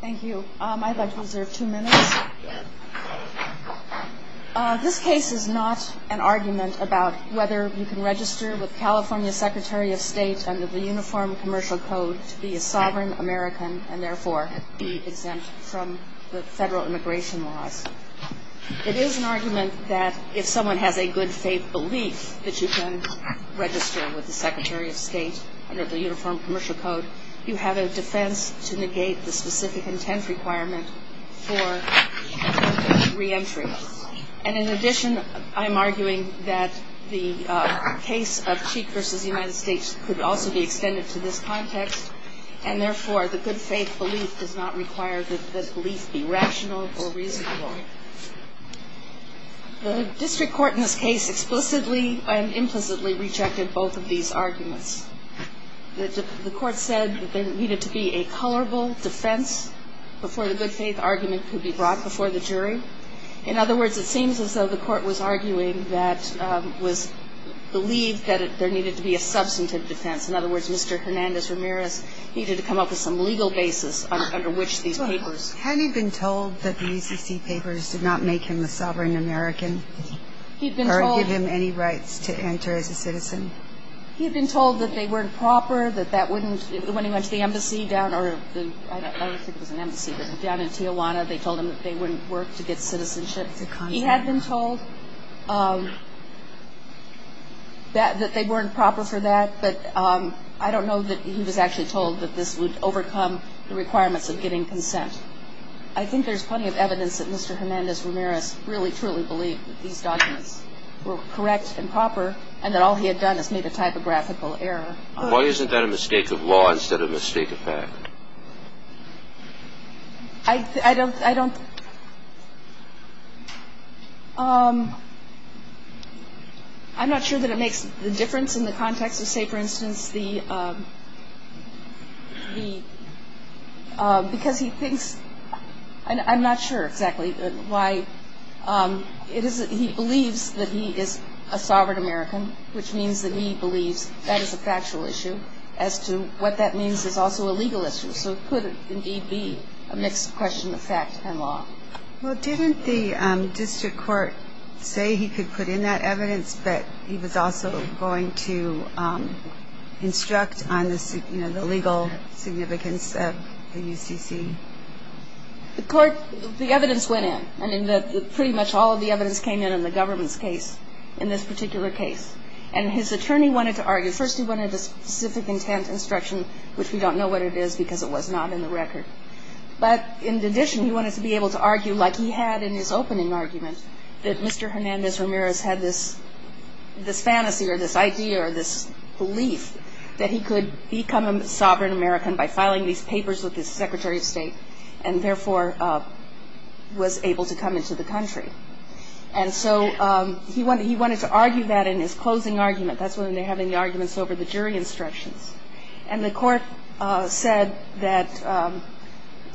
Thank you. I'd like to reserve two minutes. This case is not an argument about whether you can register with California's Secretary of State under the Uniform Commercial Code to be a sovereign American and therefore be exempt from the federal immigration laws. It is an argument that if someone has a good faith belief that you can register with the Secretary of State under the Uniform Commercial Code, you have a defense to negate the specific intent requirement for reentry. And in addition, I'm arguing that the case of Cheek v. United States could also be extended to this context and therefore the good faith belief does not require that belief be rational or reasonable. The district court in this case explicitly and implicitly rejected both of these arguments. The court said there needed to be a colorable defense before the good faith argument could be brought before the jury. In other words, it seems as though the court was arguing that it was believed that there needed to be a substantive defense. In other words, Mr. Hernandez-Ramirez needed to come up with some legal basis under which these papers Hadn't he been told that the UCC papers did not make him a sovereign American or give him any rights to enter as a citizen? He had been told that they weren't proper, that that wouldn't, when he went to the embassy down, or I don't think it was an embassy, but down in Tijuana, they told him that they wouldn't work to get citizenship. He had been told that they weren't proper for that, but I don't know that he was actually told that this would overcome the requirements of getting consent. I think there's plenty of evidence that Mr. Hernandez-Ramirez really truly believed that these documents were correct and proper and that all he had done is made a typographical error. Why isn't that a mistake of law instead of a mistake of fact? I don't, I don't, I'm not sure that it makes the difference in the context of, say, for instance, the, because he thinks, I'm not sure exactly why. It is that he believes that he is a sovereign American, which means that he believes that is a factual issue. As to what that means is also a legal issue, so it could indeed be a mixed question of fact and law. Well, didn't the district court say he could put in that evidence, but he was also going to instruct on the, you know, the legal significance of the UCC? The court, the evidence went in. I mean, pretty much all of the evidence came in on the government's case, in this particular case. And his attorney wanted to argue, first he wanted a specific intent instruction, which we don't know what it is because it was not in the record. But in addition, he wanted to be able to argue like he had in his opening argument, that Mr. Hernandez-Ramirez had this, this fantasy or this idea or this belief that he could become a sovereign American by filing these papers with his Secretary of State and therefore was able to come into the country. And so he wanted to argue that in his closing argument. That's when they're having the arguments over the jury instructions. And the court said that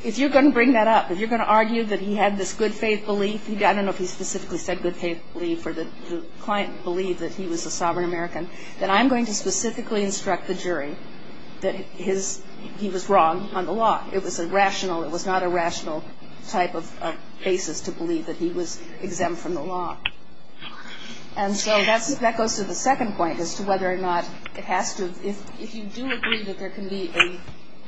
if you're going to bring that up, if you're going to argue that he had this good faith belief, I don't know if he specifically said good faith belief or the client believed that he was a sovereign American, that I'm going to specifically instruct the jury that he was wrong on the law. It was a rational, it was not a rational type of basis to believe that he was exempt from the law. And so that goes to the second point as to whether or not it has to, if you do agree that there can be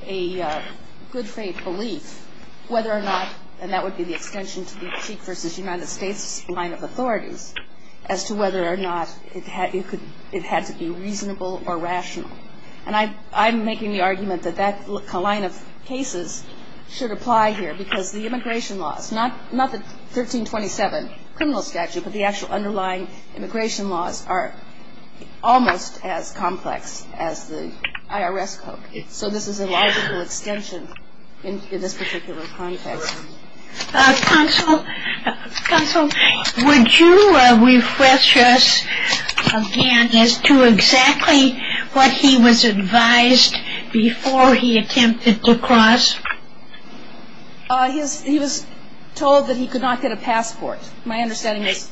a good faith belief, whether or not, and that would be the extension to the Cheek v. United States line of authorities, as to whether or not it had to be reasonable or rational. And I'm making the argument that that line of cases should apply here because the immigration laws, not the 1327 criminal statute, but the actual underlying immigration laws are almost as complex as the IRS code. So this is a logical extension in this particular context. Counsel, would you refresh us again as to exactly what he was advised before he attempted to cross? He was told that he could not get a passport, my understanding is.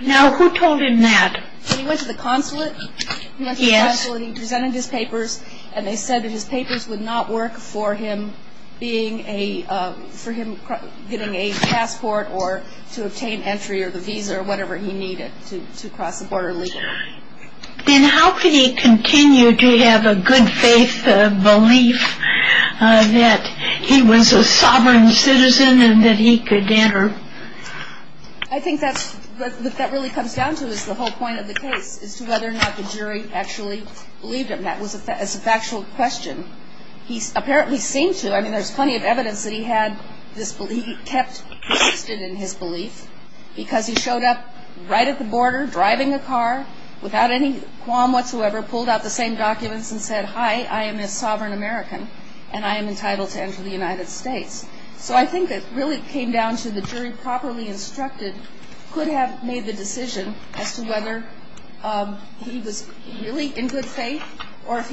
Now, who told him that? He went to the consulate. He went to the consulate and he presented his papers, and they said that his papers would not work for him being a, for him getting a passport or to obtain entry or the visa or whatever he needed to cross the border legally. Then how could he continue to have a good faith belief that he was a sovereign citizen and that he could enter? I think that really comes down to this, the whole point of the case, is to whether or not the jury actually believed him. That was a factual question. He apparently seemed to. I mean, there's plenty of evidence that he had this belief, he kept persisted in his belief because he showed up right at the border driving a car without any qualm whatsoever, pulled out the same documents and said, hi, I am a sovereign American, and I am entitled to enter the United States. So I think it really came down to the jury properly instructed could have made the decision as to whether he was really in good faith or if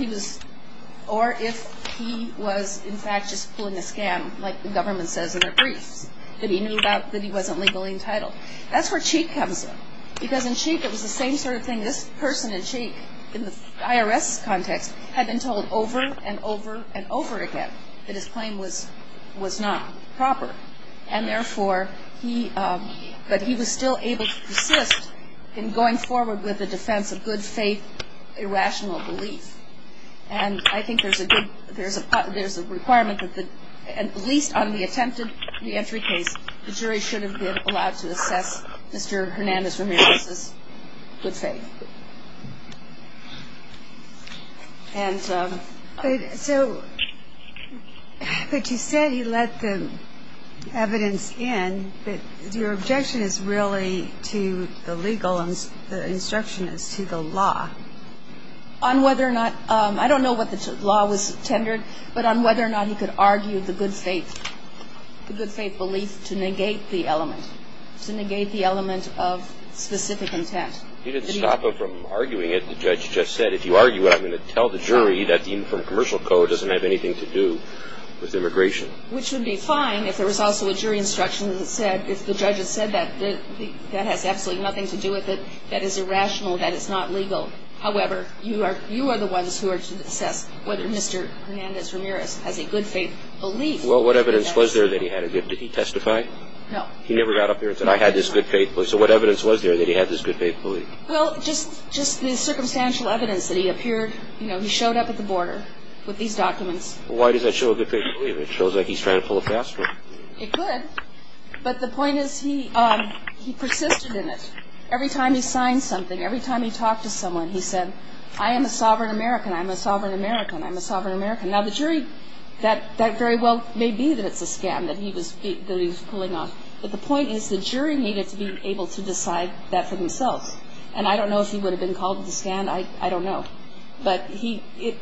he was in fact just pulling a scam, like the government says in their briefs, that he knew that he wasn't legally entitled. That's where Cheek comes in because in Cheek it was the same sort of thing. This person in Cheek in the IRS context had been told over and over and over again that his claim was not proper. And therefore, he, but he was still able to persist in going forward with a defense of good faith, irrational belief. And I think there's a good, there's a requirement that at least on the attempted reentry case, the jury should have been allowed to assess Mr. Hernandez Ramirez's good faith. And so, but you said you let the evidence in, but your objection is really to the legal instruction as to the law. On whether or not, I don't know what the law was tendered, but on whether or not he could argue the good faith, the good faith belief to negate the element, to negate the element of specific intent. You didn't stop him from arguing it. The judge just said, if you argue it, I'm going to tell the jury that even from commercial code, it doesn't have anything to do with immigration. Which would be fine if there was also a jury instruction that said, if the judge had said that, that has absolutely nothing to do with it. That is irrational. That is not legal. However, you are the ones who are to assess whether Mr. Hernandez Ramirez has a good faith belief. Well, what evidence was there that he had a good, did he testify? No. He never got up there and said, I had this good faith belief. So what evidence was there that he had this good faith belief? Well, just the circumstantial evidence that he appeared, you know, he showed up at the border with these documents. Well, why does that show a good faith belief? It shows like he's trying to pull a fast one. It could. But the point is, he persisted in it. Every time he signed something, every time he talked to someone, he said, I am a sovereign American, I'm a sovereign American, I'm a sovereign American. Now, the jury, that very well may be that it's a scam that he was pulling off. But the point is, the jury needed to be able to decide that for themselves. And I don't know if he would have been called to the stand. I don't know. But he, it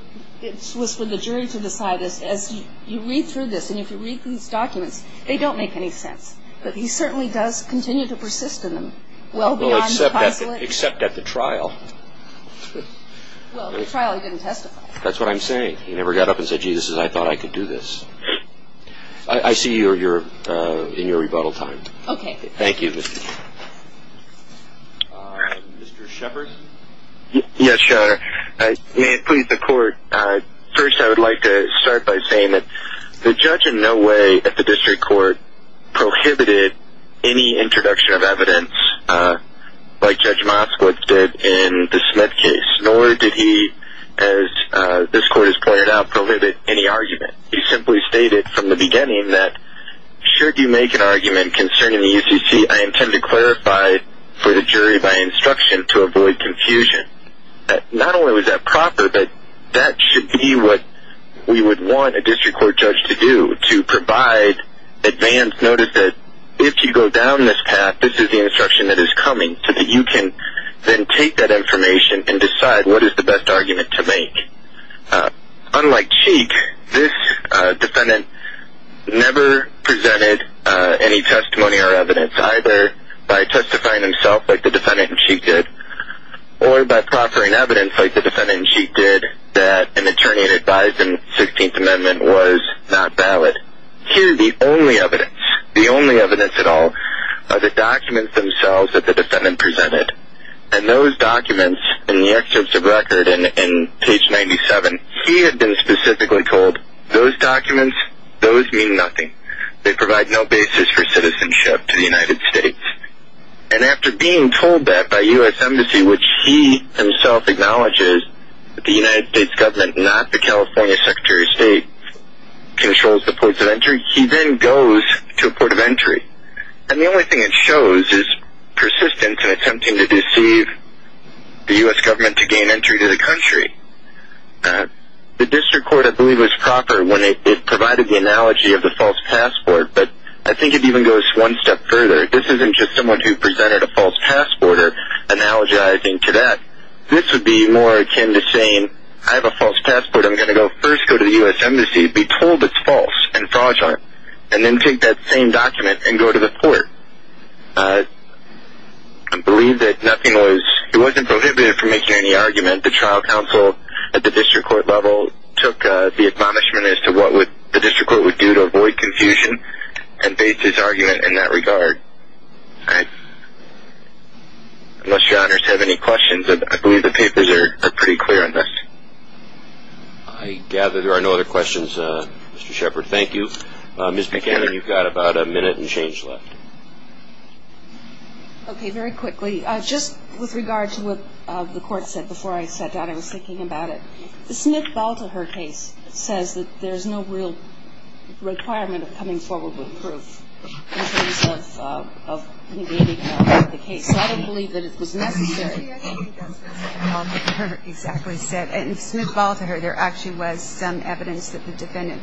was for the jury to decide. As you read through this, and if you read through these documents, they don't make any sense. But he certainly does continue to persist in them. Well, except at the trial. Well, at the trial he didn't testify. That's what I'm saying. He never got up and said, gee, this is, I thought I could do this. I see you're in your rebuttal time. Okay. Thank you. Mr. Shepard. Yes, Your Honor. May it please the court, first I would like to start by saying that the judge in no way at the district court prohibited any introduction of evidence like Judge Moskowitz did in the Smith case. Nor did he, as this court has pointed out, prohibit any argument. He simply stated from the beginning that should you make an argument concerning the UCC, I intend to clarify for the jury by instruction to avoid confusion. Not only was that proper, but that should be what we would want a district court judge to do, to provide advance notice that if you go down this path, this is the instruction that is coming, so that you can then take that information and decide what is the best argument to make. Unlike Cheek, this defendant never presented any testimony or evidence, either by testifying himself like the defendant in Cheek did, or by proffering evidence like the defendant in Cheek did, that an attorney advised in the 16th Amendment was not valid. Here the only evidence, the only evidence at all, are the documents themselves that the defendant presented. And those documents in the excerpts of the record in page 97, he had been specifically told, those documents, those mean nothing. They provide no basis for citizenship to the United States. And after being told that by U.S. Embassy, which he himself acknowledges, that the United States government, not the California Secretary of State, controls the ports of entry, he then goes to a port of entry. And the only thing it shows is persistence in attempting to deceive the U.S. government to gain entry to the country. The district court, I believe, was proper when it provided the analogy of the false passport, but I think it even goes one step further. This isn't just someone who presented a false passport or analogizing to that. This would be more akin to saying, I have a false passport. I'm going to go first go to the U.S. Embassy, be told it's false and fraudulent, and then take that same document and go to the port. I believe that nothing was, it wasn't prohibited from making any argument. The trial counsel at the district court level took the admonishment as to what the district court would do to avoid confusion and based his argument in that regard. Unless your honors have any questions, I believe the papers are pretty clear on this. I gather there are no other questions. Mr. Shepard, thank you. Ms. McGannon, you've got about a minute and change left. Okay. Very quickly, just with regard to what the court said before I sat down, I was thinking about it. The Smith-Baltaher case says that there's no real requirement of coming forward with proof in terms of negating the case. So I don't believe that it was necessary. I think that's what Smith-Baltaher exactly said. In Smith-Baltaher, there actually was some evidence that the defendant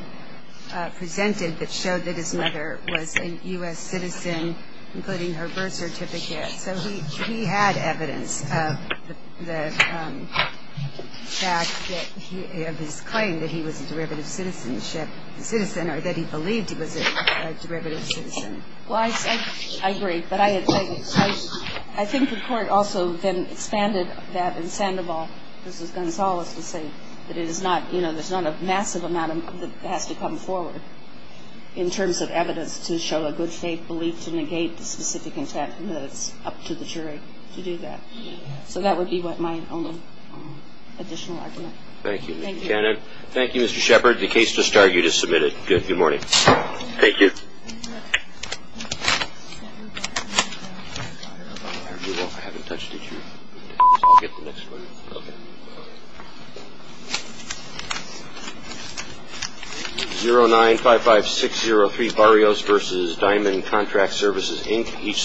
presented that showed that his mother was a U.S. citizen, including her birth certificate. So he had evidence of the fact that he, of his claim that he was a derivative citizenship, a citizen or that he believed he was a derivative citizen. Well, I agree. But I think the court also then expanded that in Sandoval v. Gonzalez to say that it is not, you know, there's not a massive amount that has to come forward in terms of evidence to show a good faith belief to negate the specific intent and that it's up to the jury to do that. So that would be my only additional argument. Thank you, Ms. McGannon. Thank you, Mr. Shepard. The case just argued is submitted. Good morning. Thank you. Thank you.